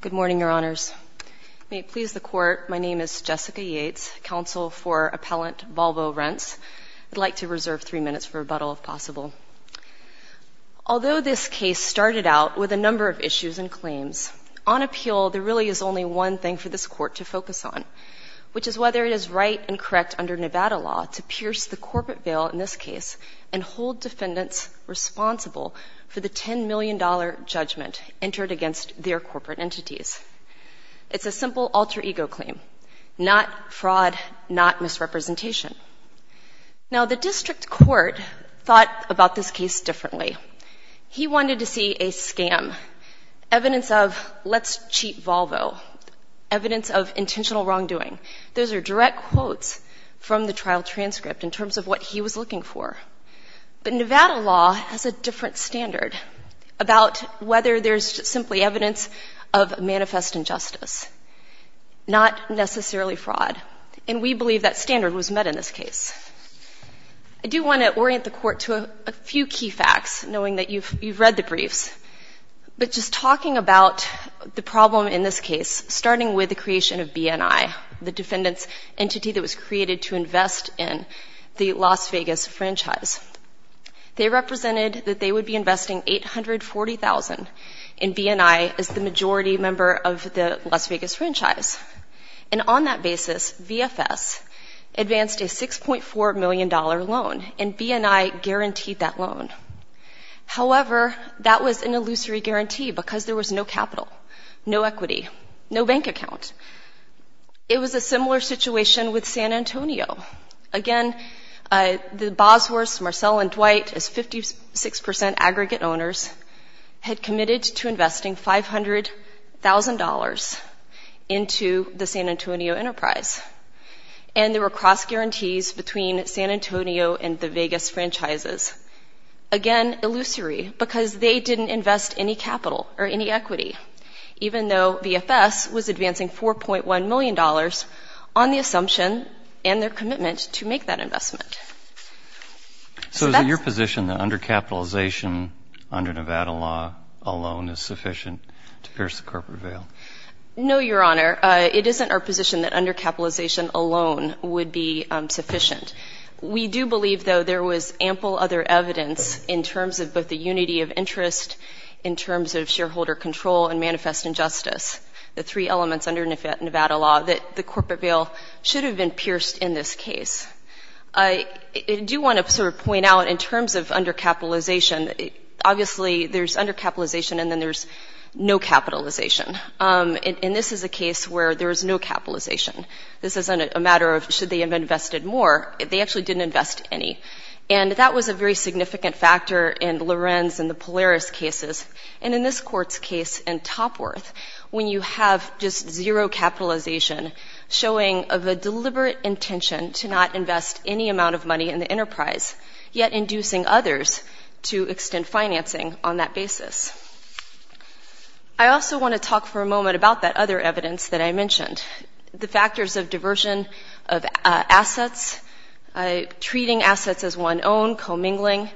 Good morning, Your Honors. May it please the Court, my name is Jessica Yates, Counsel for Appellant Balbo Rents. I'd like to reserve three minutes for rebuttal, if possible. Although this case started out with a number of issues and claims, on appeal there really is only one thing for this Court to focus on, which is whether it is right and correct under Nevada law to pierce the corporate veil in this case and hold defendants responsible for the $10 million judgment entered against their corporate entities. It's a simple alter ego claim, not fraud, not misrepresentation. Now the District Court thought about this case differently. He wanted to see a scam, evidence of let's cheat Volvo, evidence of intentional wrongdoing. Those are direct quotes from the trial transcript in terms of what he was looking for. But Nevada law has a different standard about whether there's simply evidence of manifest injustice, not necessarily fraud. And we believe that standard was met in this case. I do want to orient the Court to a few key facts, knowing that you've read the briefs. But just talking about the problem in this case, starting with the creation of B&I, the defendant's entity that was created to invest in the Las Vegas franchise. They represented that they would be investing $840,000 in B&I as the majority member of the Las Vegas franchise. And on that basis, VFS advanced a $6.4 million loan, and B&I guaranteed that loan. However, that was an illusory guarantee because there was no capital, no equity, no bank account. It was a similar situation with San Antonio. Again, the Bosworths, Marcel and Dwight, as 56% aggregate owners, had committed to investing $500,000 into the San Antonio enterprise. And there were cross-guarantees between San Antonio and the Vegas franchises. Again, illusory because they didn't invest any capital or any equity, even though VFS was advancing $4.1 million on the assumption and their commitment to make that investment. So is it your position that undercapitalization under Nevada law alone is sufficient to pierce the corporate veil? No, Your Honor. It isn't our position that undercapitalization alone would be sufficient. We do believe, though, there was ample other evidence in terms of both the unity of interest, in terms of shareholder control and manifest injustice, the three elements under Nevada law that the corporate veil should have been pierced in this case. I do want to sort of point out in terms of undercapitalization, obviously there's undercapitalization and then there's no capitalization. And this is a case where there is no capitalization. This isn't a matter of should they have invested more. They actually didn't invest any. And that was a very significant factor in Lorenz and the Polaris cases. And in this Court's case in Topworth, when you have just zero capitalization, showing of a deliberate intention to not invest any amount of money in the enterprise, yet inducing others to extend financing on that basis. I also want to talk for a moment about that other evidence that I mentioned, the factors of diversion of assets, treating assets as one own, commingling,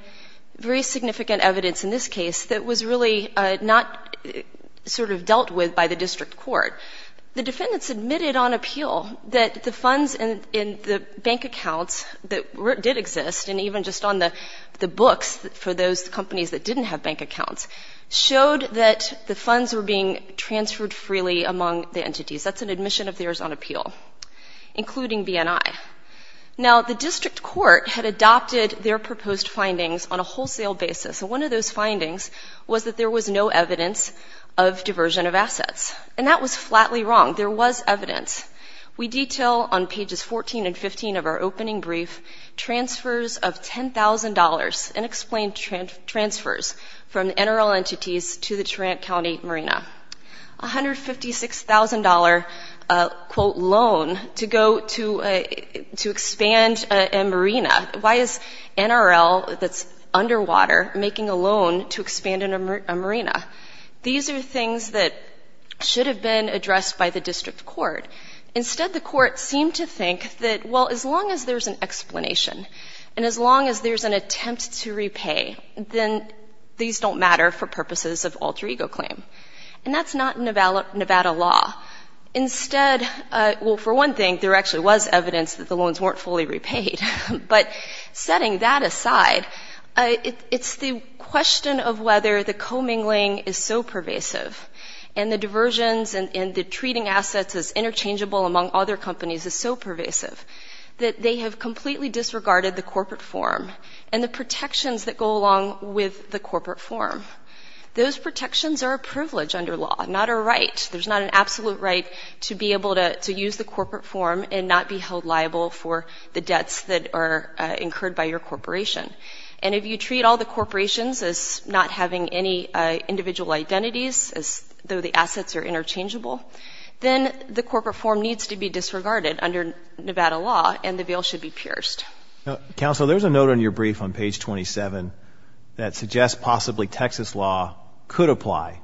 very significant evidence in this case that was really not sort of dealt with by the district court. The defendants admitted on appeal that the funds in the bank accounts that did exist, and even just on the books for those companies that didn't have bank accounts, showed that the funds were being transferred freely among the entities. That's an admission of theirs on appeal, including BNI. Now, the district court had adopted their proposed findings on a wholesale basis. And one of those findings was that there was no evidence of diversion of assets. And that was flatly wrong. There was evidence. We detail on pages 14 and 15 of our opening brief transfers of $10,000, unexplained transfers from NRL entities to the Tarrant County Marina. A $156,000, quote, loan to go to expand a marina. Why is NRL, that's underwater, making a loan to expand a marina? These are things that should have been addressed by the district court. Instead, the court seemed to think that, well, as long as there's an explanation and as long as there's an attempt to repay, then these don't matter for purposes of alter ego claim. And that's not Nevada law. Instead, well, for one thing, there actually was evidence that the loans weren't fully repaid. But setting that aside, it's the question of whether the commingling is so pervasive and the diversions and the treating assets as interchangeable among other companies is so pervasive that they have completely disregarded the corporate form and the protections that go along with the corporate form. Those protections are a privilege under law, not a right. There's not an absolute right to be able to use the corporate form and not be held liable for the debts that are incurred by your corporation. And if you treat all the corporations as not having any individual identities, as though the assets are interchangeable, then the corporate form needs to be disregarded under Nevada law and the veil should be pierced. Counsel, there's a note on your brief on page 27 that suggests possibly Texas law could apply.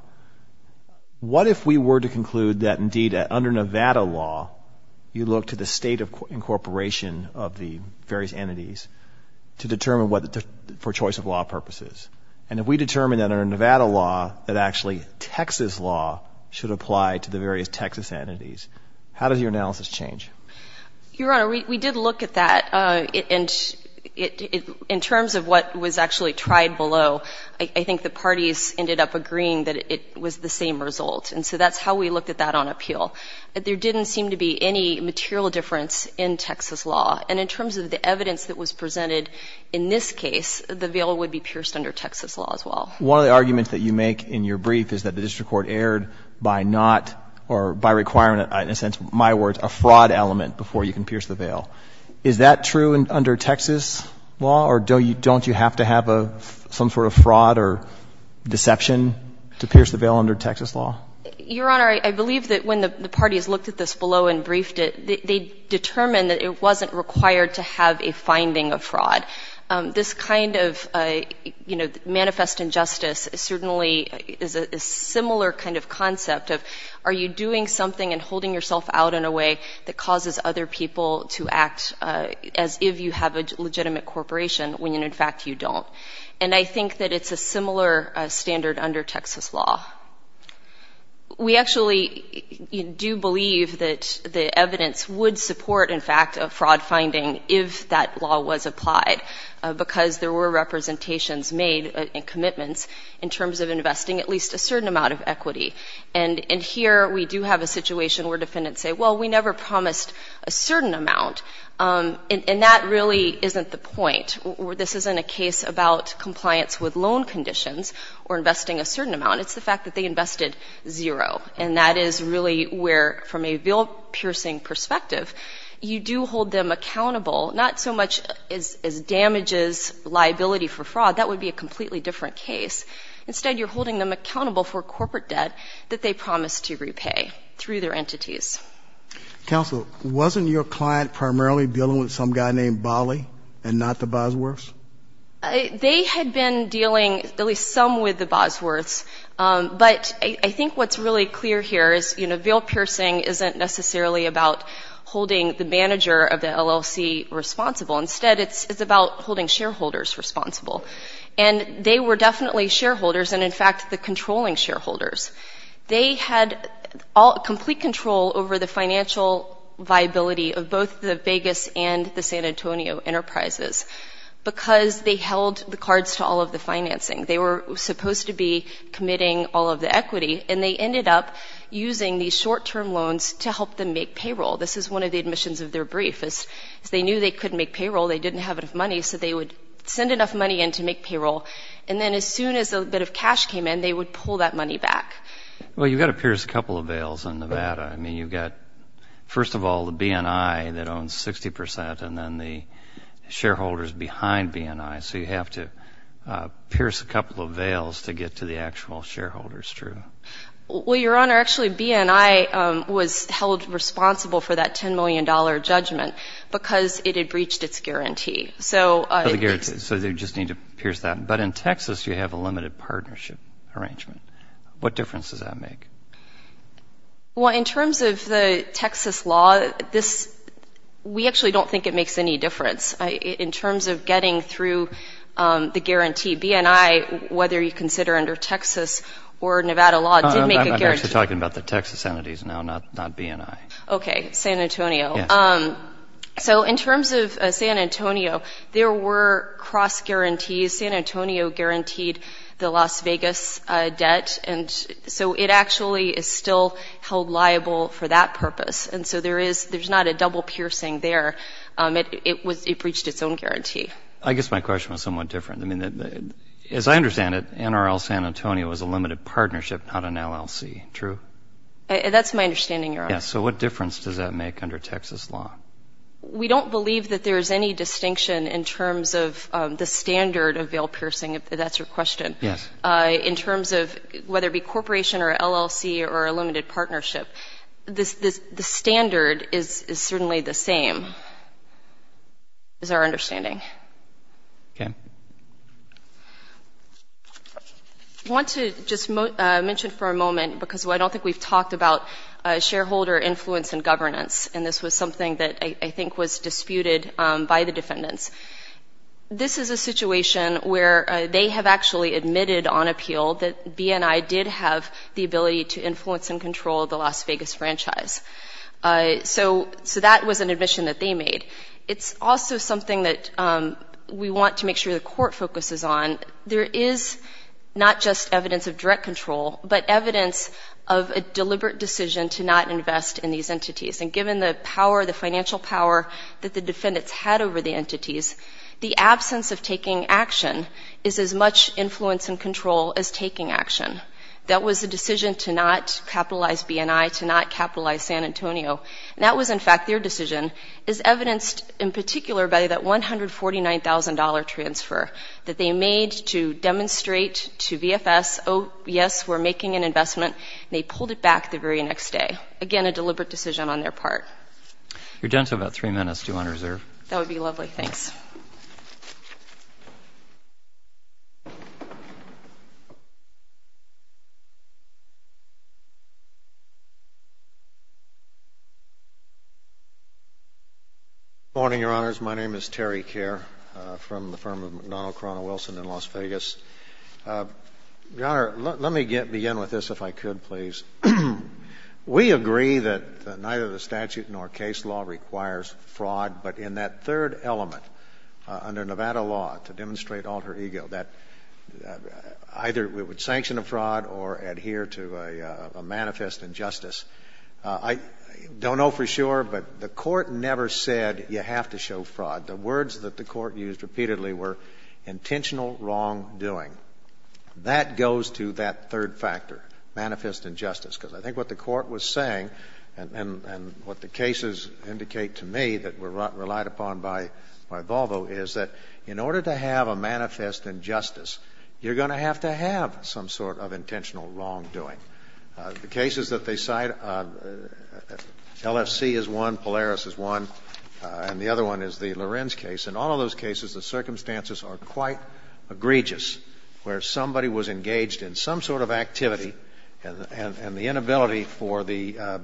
What if we were to conclude that, indeed, under Nevada law, you look to the state incorporation of the various entities to determine what the choice of law purpose is? And if we determine that under Nevada law that actually Texas law should apply to the various Texas entities, how does your analysis change? Your Honor, we did look at that. In terms of what was actually tried below, I think the parties ended up agreeing that it was the same result. And so that's how we looked at that on appeal. There didn't seem to be any material difference in Texas law. And in terms of the evidence that was presented in this case, the veil would be pierced under Texas law as well. One of the arguments that you make in your brief is that the district court erred by not or by requiring, in a sense, my words, a fraud element before you can pierce the veil. Is that true under Texas law? Or don't you have to have some sort of fraud or deception to pierce the veil under Texas law? Your Honor, I believe that when the parties looked at this below and briefed it, they determined that it wasn't required to have a finding of fraud. This kind of manifest injustice certainly is a similar kind of concept of are you doing something and holding yourself out in a way that causes other people to act as if you have a legitimate corporation when, in fact, you don't. And I think that it's a similar standard under Texas law. We actually do believe that the evidence would support, in fact, a fraud finding if that law was applied because there were representations made and commitments in terms of investing at least a certain amount of equity. And here we do have a situation where defendants say, well, we never promised a certain amount. And that really isn't the point. This isn't a case about compliance with loan conditions or investing a certain amount. It's the fact that they invested zero. And that is really where, from a veil-piercing perspective, you do hold them accountable, not so much as damages liability for fraud. That would be a completely different case. Instead, you're holding them accountable for corporate debt that they promised to repay through their entities. Counsel, wasn't your client primarily dealing with some guy named Bali and not the Bosworths? They had been dealing, at least some, with the Bosworths. But I think what's really clear here is, you know, veil-piercing isn't necessarily about holding the manager of the LLC responsible. Instead, it's about holding shareholders responsible. And they were definitely shareholders and, in fact, the controlling shareholders. They had complete control over the financial viability of both the Vegas and the San Antonio enterprises because they held the cards to all of the financing. They were supposed to be committing all of the equity, and they ended up using these short-term loans to help them make payroll. This is one of the admissions of their brief. As they knew they couldn't make payroll, they didn't have enough money, so they would send enough money in to make payroll. And then as soon as a bit of cash came in, they would pull that money back. Well, you've got to pierce a couple of veils in Nevada. I mean, you've got, first of all, the B&I that owns 60 percent and then the shareholders behind B&I, so you have to pierce a couple of veils to get to the actual shareholders, true? Well, Your Honor, actually, B&I was held responsible for that $10 million judgment because it had breached its guarantee. So they just need to pierce that. But in Texas, you have a limited partnership arrangement. What difference does that make? Well, in terms of the Texas law, we actually don't think it makes any difference. In terms of getting through the guarantee, B&I, whether you consider under Texas or Nevada law, did make a guarantee. I'm actually talking about the Texas entities now, not B&I. Okay, San Antonio. So in terms of San Antonio, there were cross-guarantees. San Antonio guaranteed the Las Vegas debt, and so it actually is still held liable for that purpose. And so there's not a double piercing there. It breached its own guarantee. I guess my question was somewhat different. I mean, as I understand it, NRL San Antonio is a limited partnership, not an LLC, true? That's my understanding, Your Honor. Yeah, so what difference does that make under Texas law? We don't believe that there is any distinction in terms of the standard of bail piercing, if that's your question. Yes. In terms of whether it be corporation or LLC or a limited partnership, the standard is certainly the same, is our understanding. Okay. I want to just mention for a moment, because I don't think we've talked about shareholder influence in governance, and this was something that I think was disputed by the defendants. This is a situation where they have actually admitted on appeal that B&I did have the ability to influence and control the Las Vegas franchise. So that was an admission that they made. It's also something that we want to make sure the court focuses on. There is not just evidence of direct control, but evidence of a deliberate decision to not invest in these entities. And given the power, the financial power that the defendants had over the entities, the absence of taking action is as much influence and control as taking action. That was a decision to not capitalize B&I, to not capitalize San Antonio. And that was, in fact, their decision is evidenced in particular by that $149,000 transfer that they made to demonstrate to VFS, oh, yes, we're making an investment, and they pulled it back the very next day. Again, a deliberate decision on their part. You're down to about three minutes. Do you want to reserve? That would be lovely. Thanks. Good morning, Your Honors. My name is Terry Kerr from the firm of McDonnell, Corona-Wilson in Las Vegas. Your Honor, let me begin with this, if I could, please. We agree that neither the statute nor case law requires fraud, but in that third element, under Nevada law, to demonstrate alter ego, that either it would sanction a fraud or adhere to a manifest injustice. I don't know for sure, but the court never said you have to show fraud. The words that the court used repeatedly were intentional wrongdoing. That goes to that third factor, manifest injustice, because I think what the court was saying, and what the cases indicate to me that were relied upon by Volvo, is that in order to have a manifest injustice, you're going to have to have some sort of intentional wrongdoing. The cases that they cite, LFC is one, Polaris is one, and the other one is the Lorenz case. In all of those cases, the circumstances are quite egregious, where somebody was engaged in some sort of activity, and the inability for the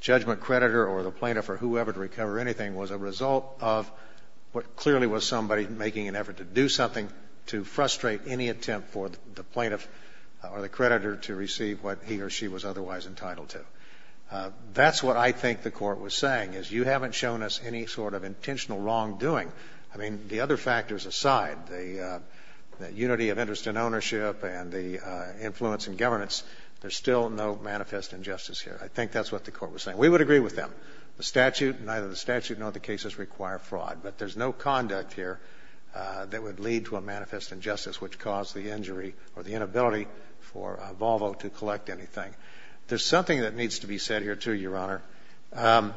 judgment creditor or the plaintiff or whoever to recover anything was a result of what clearly was somebody making an effort to do something to frustrate any attempt for the plaintiff or the creditor to receive what he or she was otherwise entitled to. That's what I think the court was saying, is you haven't shown us any sort of intentional wrongdoing. I mean, the other factors aside, the unity of interest in ownership and the influence in governance, there's still no manifest injustice here. I think that's what the court was saying. We would agree with them. The statute, neither the statute nor the cases require fraud, but there's no conduct here that would lead to a manifest injustice, which caused the injury or the inability for Volvo to collect anything. There's something that needs to be said here, too, Your Honor.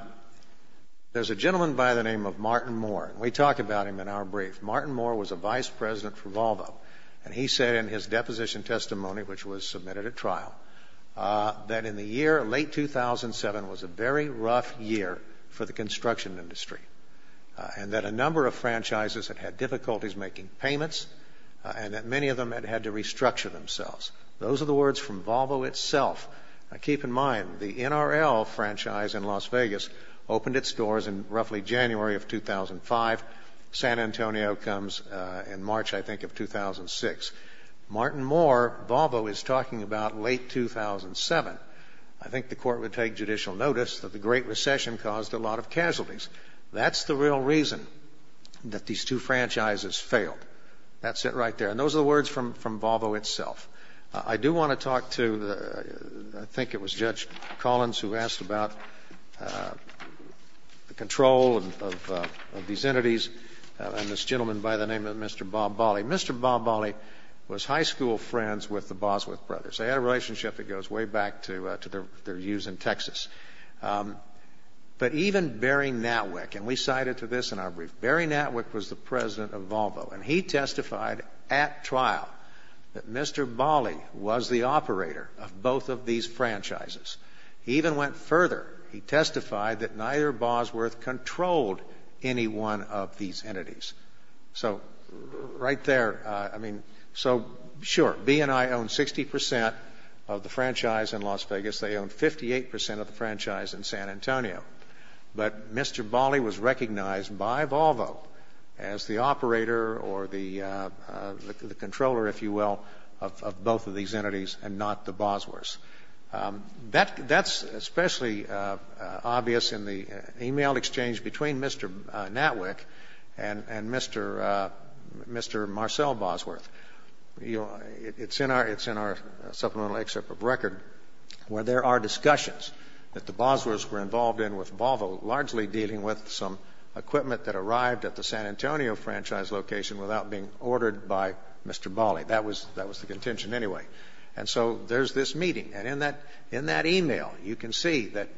There's a gentleman by the name of Martin Moore, and we talk about him in our brief. Martin Moore was a vice president for Volvo, and he said in his deposition testimony, which was submitted at trial, that in the year late 2007 was a very rough year for the construction industry and that a number of franchises had had difficulties making payments and that many of them had had to restructure themselves. Those are the words from Volvo itself. Now, keep in mind, the NRL franchise in Las Vegas opened its doors in roughly January of 2005. San Antonio comes in March, I think, of 2006. Martin Moore, Volvo is talking about late 2007. I think the court would take judicial notice that the Great Recession caused a lot of casualties. That's the real reason that these two franchises failed. That's it right there. And those are the words from Volvo itself. I do want to talk to, I think it was Judge Collins who asked about the control of these entities and this gentleman by the name of Mr. Bob Bolley. Mr. Bob Bolley was high school friends with the Bosworth brothers. They had a relationship that goes way back to their use in Texas. But even Barry Natwick, and we cited to this in our brief, Barry Natwick was the president of Volvo, and he testified at trial that Mr. Bolley was the operator of both of these franchises. He even went further. He testified that neither Bosworth controlled any one of these entities. So right there, I mean, so sure, B&I owned 60% of the franchise in Las Vegas. They owned 58% of the franchise in San Antonio. But Mr. Bolley was recognized by Volvo as the operator or the controller, if you will, of both of these entities and not the Bosworths. That's especially obvious in the e-mail exchange between Mr. Natwick and Mr. Marcel Bosworth. It's in our supplemental excerpt of record where there are discussions that the Bosworths were involved in with Volvo, largely dealing with some equipment that arrived at the San Antonio franchise location without being ordered by Mr. Bolley. That was the contention anyway. And so there's this meeting. And in that e-mail, you can see that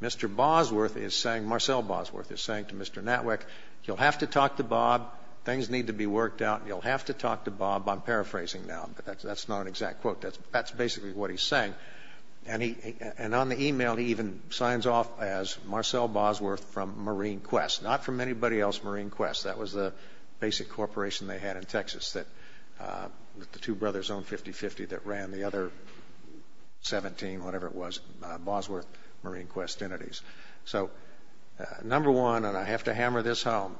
Mr. Bosworth is saying, Marcel Bosworth is saying to Mr. Natwick, you'll have to talk to Bob. Things need to be worked out. You'll have to talk to Bob. I'm paraphrasing now, but that's not an exact quote. That's basically what he's saying. And on the e-mail, he even signs off as Marcel Bosworth from Marine Quest, not from anybody else, Marine Quest. That was the basic corporation they had in Texas that the two brothers owned 50-50 that ran the other 17, whatever it was, Bosworth Marine Quest entities. So, number one, and I have to hammer this home,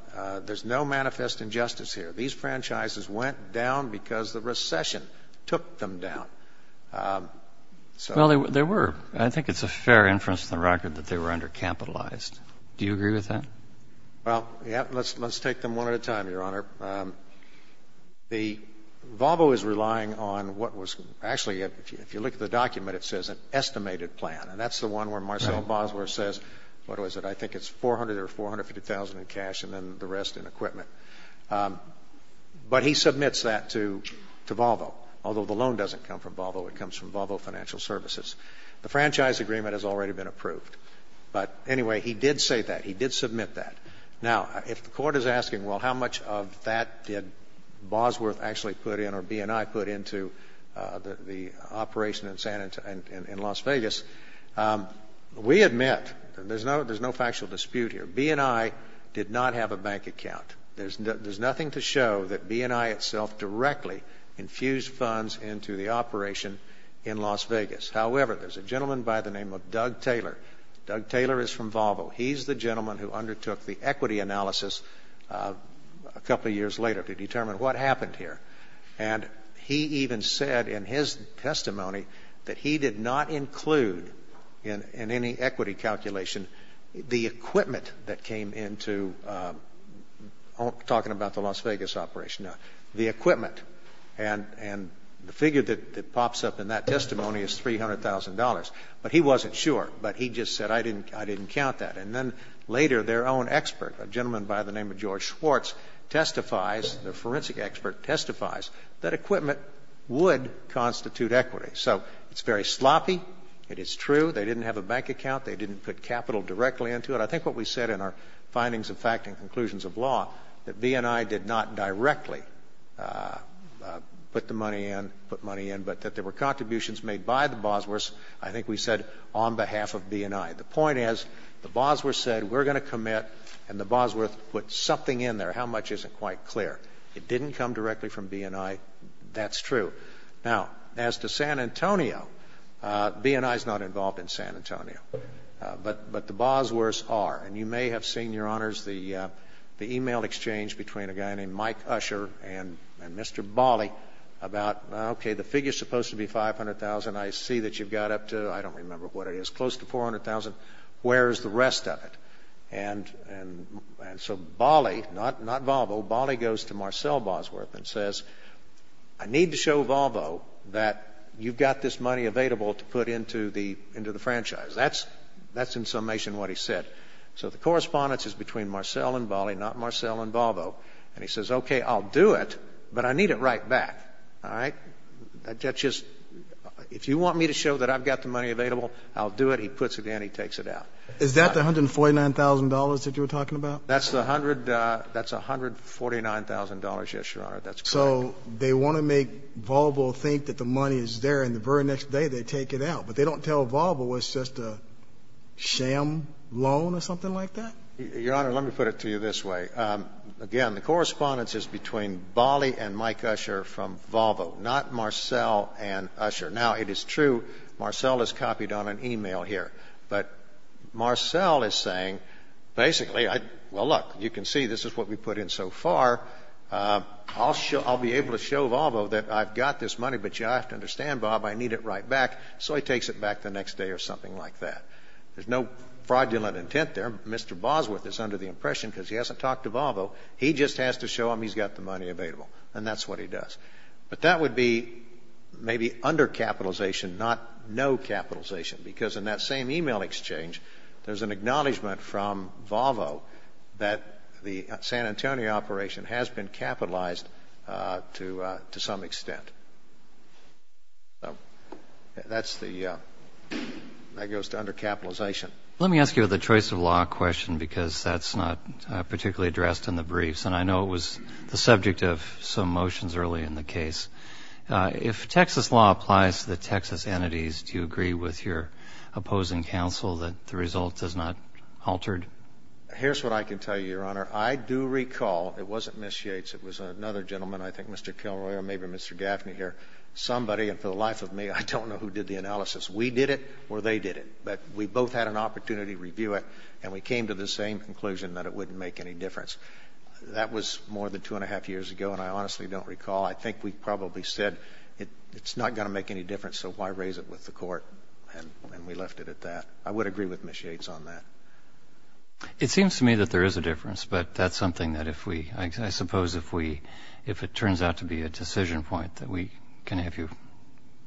there's no manifest injustice here. These franchises went down because the recession took them down. Well, there were. I think it's a fair inference from the record that they were undercapitalized. Do you agree with that? Well, yeah. Let's take them one at a time, Your Honor. Volvo is relying on what was actually, if you look at the document, it says an estimated plan. And that's the one where Marcel Bosworth says, what was it, I think it's $400,000 or $450,000 in cash and then the rest in equipment. But he submits that to Volvo, although the loan doesn't come from Volvo. It comes from Volvo Financial Services. The franchise agreement has already been approved. But anyway, he did say that. He did submit that. Now, if the court is asking, well, how much of that did Bosworth actually put in or B&I put into the operation in Las Vegas, we admit there's no factual dispute here. B&I did not have a bank account. There's nothing to show that B&I itself directly infused funds into the operation in Las Vegas. However, there's a gentleman by the name of Doug Taylor. Doug Taylor is from Volvo. He's the gentleman who undertook the equity analysis a couple of years later to determine what happened here. And he even said in his testimony that he did not include in any equity calculation the equipment that came into, talking about the Las Vegas operation, the equipment. And the figure that pops up in that testimony is $300,000. But he wasn't sure. But he just said, I didn't count that. And then later their own expert, a gentleman by the name of George Schwartz, testifies, the forensic expert testifies, that equipment would constitute equity. So it's very sloppy. It is true they didn't have a bank account. They didn't put capital directly into it. I think what we said in our findings of fact and conclusions of law, that B&I did not directly put the money in, put money in, but that there were contributions made by the Bosworths, I think we said on behalf of B&I. The point is, the Bosworths said, we're going to commit, and the Bosworths put something in there. How much isn't quite clear. It didn't come directly from B&I. That's true. Now, as to San Antonio, B&I is not involved in San Antonio. But the Bosworths are. And you may have seen, Your Honors, the e-mail exchange between a guy named Mike Usher and Mr. Bali about, okay, the figure is supposed to be $500,000. I see that you've got up to, I don't remember what it is, close to $400,000. Where is the rest of it? And so Bali, not Volvo, Bali goes to Marcel Bosworth and says, I need to show Volvo that you've got this money available to put into the franchise. That's in summation what he said. And he says, okay, I'll do it, but I need it right back. All right? That's just, if you want me to show that I've got the money available, I'll do it. He puts it in. He takes it out. Is that the $149,000 that you were talking about? That's the $149,000, yes, Your Honor. That's correct. So they want to make Volvo think that the money is there, and the very next day they take it out. But they don't tell Volvo it's just a sham loan or something like that? Your Honor, let me put it to you this way. Again, the correspondence is between Bali and Mike Usher from Volvo, not Marcel and Usher. Now, it is true, Marcel is copied on an e-mail here. But Marcel is saying, basically, well, look, you can see this is what we put in so far. I'll be able to show Volvo that I've got this money, but you have to understand, Bob, I need it right back. So he takes it back the next day or something like that. There's no fraudulent intent there. Mr. Bosworth is under the impression, because he hasn't talked to Volvo, he just has to show him he's got the money available, and that's what he does. But that would be maybe undercapitalization, not no capitalization, because in that same e-mail exchange, there's an acknowledgment from Volvo that the San Antonio operation has been capitalized to some extent. That goes to undercapitalization. Let me ask you the choice of law question, because that's not particularly addressed in the briefs, and I know it was the subject of some motions early in the case. If Texas law applies to the Texas entities, do you agree with your opposing counsel that the result is not altered? Here's what I can tell you, Your Honor. I do recall, it wasn't Ms. Yates, it was another gentleman, I think, Mr. Kilroy or maybe Mr. Gaffney here, somebody, and for the life of me, I don't know who did the analysis. We did it or they did it, but we both had an opportunity to review it, and we came to the same conclusion that it wouldn't make any difference. That was more than two and a half years ago, and I honestly don't recall. I think we probably said it's not going to make any difference, so why raise it with the court? And we left it at that. I would agree with Ms. Yates on that. It seems to me that there is a difference, but that's something that if we, I suppose, if it turns out to be a decision point that we can have you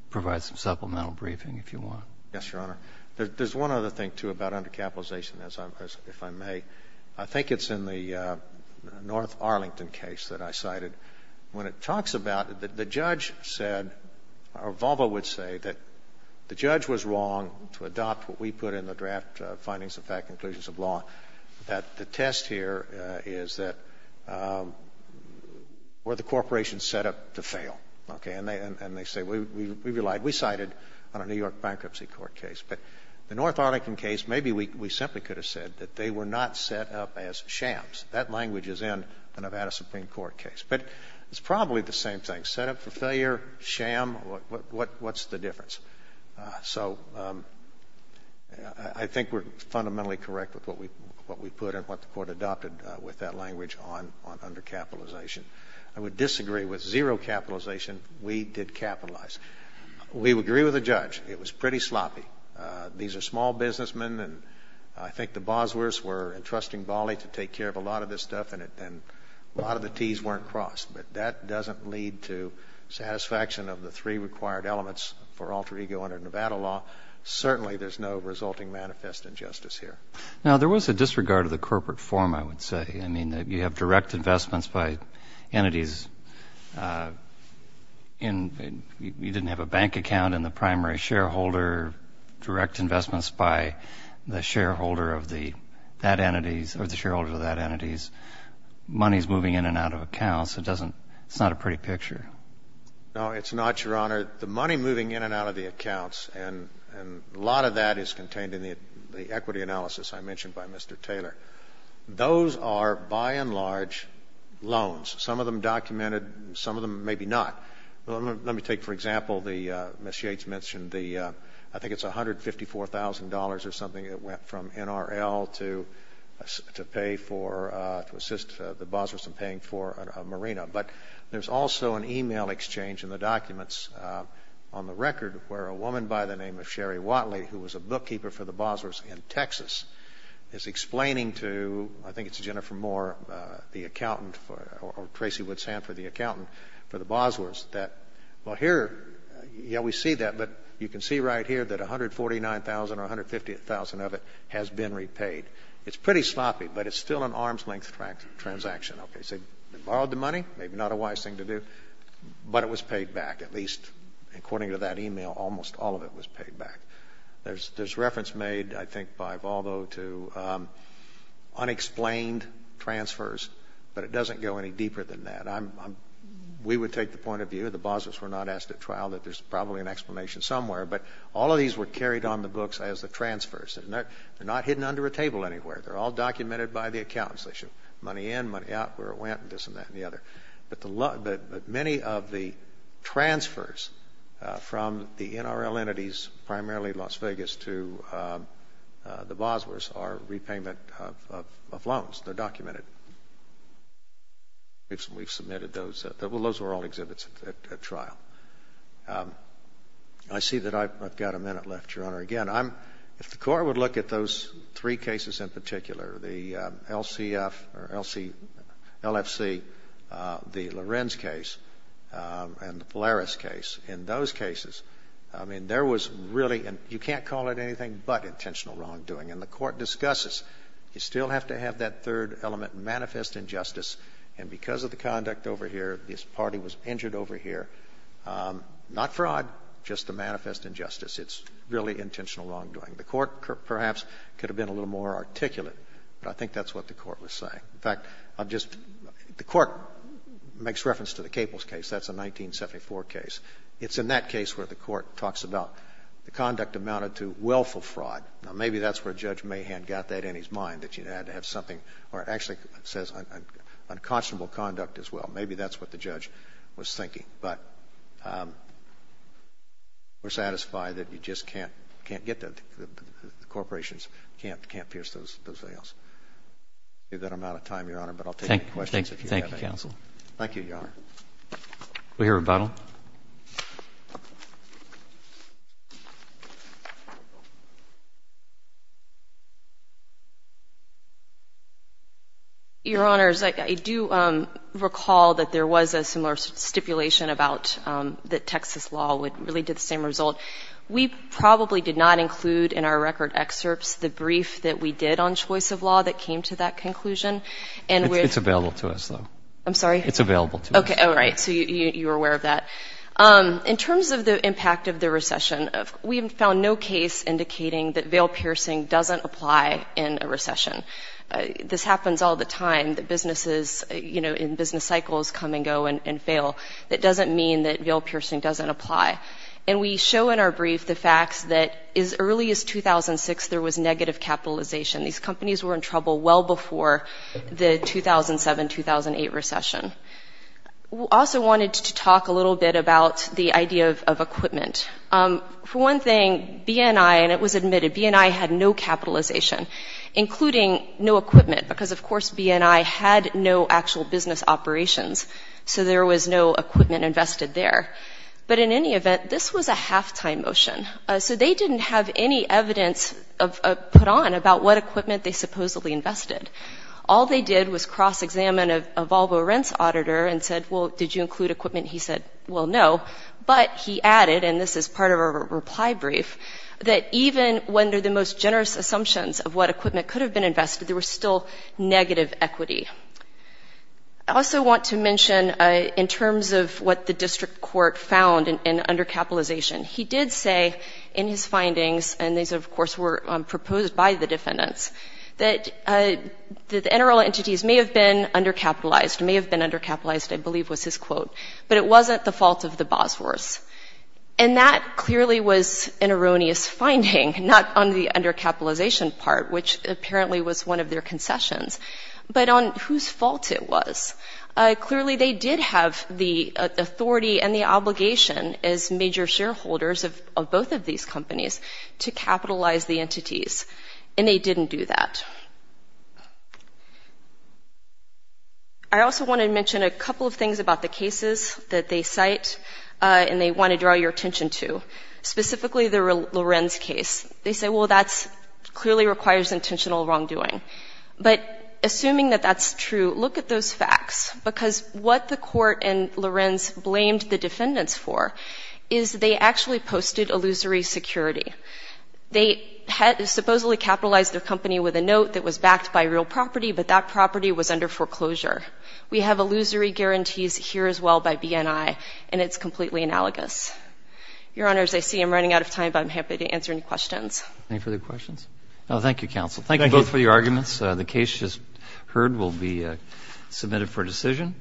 provide some supplemental briefing if you want. Yes, Your Honor. There's one other thing, too, about undercapitalization, if I may. I think it's in the North Arlington case that I cited. When it talks about it, the judge said, or Volvo would say, that the judge was wrong to adopt what we put in the draft findings of fact and conclusions of law, that the test here is that were the corporations set up to fail? And they say, we relied, we cited on a New York bankruptcy court case. But the North Arlington case, maybe we simply could have said that they were not set up as shams. That language is in the Nevada Supreme Court case. But it's probably the same thing. Set up for failure, sham, what's the difference? So I think we're fundamentally correct with what we put and what the court adopted with that language on undercapitalization. I would disagree with zero capitalization. We did capitalize. We would agree with the judge. It was pretty sloppy. These are small businessmen, and I think the Boswers were entrusting Bali to take care of a lot of this stuff, and a lot of the Ts weren't crossed. But that doesn't lead to satisfaction of the three required elements for alter ego under Nevada law. Certainly, there's no resulting manifest injustice here. Now, there was a disregard of the corporate form, I would say. I mean, you have direct investments by entities. You didn't have a bank account in the primary shareholder. Direct investments by the shareholder of that entity's money is moving in and out of accounts. It's not a pretty picture. No, it's not, Your Honor. The money moving in and out of the accounts, and a lot of that is contained in the equity analysis I mentioned by Mr. Taylor. Those are, by and large, loans, some of them documented, some of them maybe not. Let me take, for example, the Ms. Yates mentioned the I think it's $154,000 or something that went from NRL to assist the Boswars in paying for a marina. But there's also an e-mail exchange in the documents on the record where a woman by the name of Sherry Whatley, who was a bookkeeper for the Boswars in Texas, is explaining to I think it's Jennifer Moore, the accountant, or Tracy Woods Hanford, the accountant for the Boswars, that, well, here, yeah, we see that, you can see right here that $149,000 or $150,000 of it has been repaid. It's pretty sloppy, but it's still an arm's-length transaction. Okay, so they borrowed the money, maybe not a wise thing to do, but it was paid back. At least, according to that e-mail, almost all of it was paid back. There's reference made, I think, by Valdo to unexplained transfers, but it doesn't go any deeper than that. We would take the point of view, the Boswars were not asked at trial, that there's probably an explanation somewhere, but all of these were carried on the books as the transfers. They're not hidden under a table anywhere. They're all documented by the accountants. They show money in, money out, where it went, this and that and the other. But many of the transfers from the NRL entities, primarily Las Vegas, to the Boswars are repayment of loans. They're documented. We've submitted those. Well, those were all exhibits at trial. I see that I've got a minute left, Your Honor. Again, if the Court would look at those three cases in particular, the LCF or LFC, the Lorenz case and the Polaris case, in those cases, I mean, there was really, you can't call it anything but intentional wrongdoing. And the Court discusses, you still have to have that third element, manifest injustice, and because of the conduct over here, this party was injured over here, not fraud, just a manifest injustice. It's really intentional wrongdoing. The Court, perhaps, could have been a little more articulate, but I think that's what the Court was saying. In fact, I'll just, the Court makes reference to the Caples case. That's a 1974 case. It's in that case where the Court talks about the conduct amounted to willful fraud. Now, maybe that's where Judge Mahan got that in his mind, that you had to have something, or it actually says unconscionable conduct as well. Maybe that's what the judge was thinking. But we're satisfied that you just can't get the corporations, can't pierce those nails. I'm out of time, Your Honor, but I'll take any questions if you have any. Thank you, counsel. Thank you, Your Honor. We hear a rebuttal. Your Honors, I do recall that there was a similar stipulation about that Texas law would really do the same result. We probably did not include in our record excerpts the brief that we did on choice of law that came to that conclusion. It's available to us, though. I'm sorry? It's available to us. Okay. All right. So you're aware of that. In terms of the impact of the recession, we have found no case indicating that veil piercing doesn't apply in a recession. This happens all the time, that businesses in business cycles come and go and fail. That doesn't mean that veil piercing doesn't apply. And we show in our brief the facts that as early as 2006 there was negative capitalization. These companies were in trouble well before the 2007-2008 recession. We also wanted to talk a little bit about the idea of equipment. For one thing, B&I, and it was admitted, B&I had no capitalization, including no equipment, because, of course, B&I had no actual business operations, so there was no equipment invested there. But in any event, this was a halftime motion. So they didn't have any evidence put on about what equipment they supposedly invested. All they did was cross-examine a Volvo rents auditor and said, well, did you include equipment? He said, well, no. But he added, and this is part of a reply brief, that even under the most generous assumptions of what equipment could have been invested, there was still negative equity. I also want to mention in terms of what the district court found in undercapitalization, he did say in his findings, and these, of course, were proposed by the defendants, that the NRL entities may have been undercapitalized, may have been undercapitalized, I believe was his quote, but it wasn't the fault of the Bosworths. And that clearly was an erroneous finding, not on the undercapitalization part, which apparently was one of their concessions, but on whose fault it was. Clearly, they did have the authority and the obligation as major shareholders of both of these companies to capitalize the entities, and they didn't do that. I also want to mention a couple of things about the cases that they cite, and they want to draw your attention to, specifically the Lorenz case. They say, well, that clearly requires intentional wrongdoing. But assuming that that's true, look at those facts, because what the court and Lorenz blamed the defendants for is they actually posted illusory security. They supposedly capitalized their company with a note that was backed by real property, but that property was under foreclosure. We have illusory guarantees here as well by BNI, and it's completely analogous. Your Honors, I see I'm running out of time, but I'm happy to answer any questions. Any further questions? Thank you both for your arguments. The case just heard will be submitted for decision.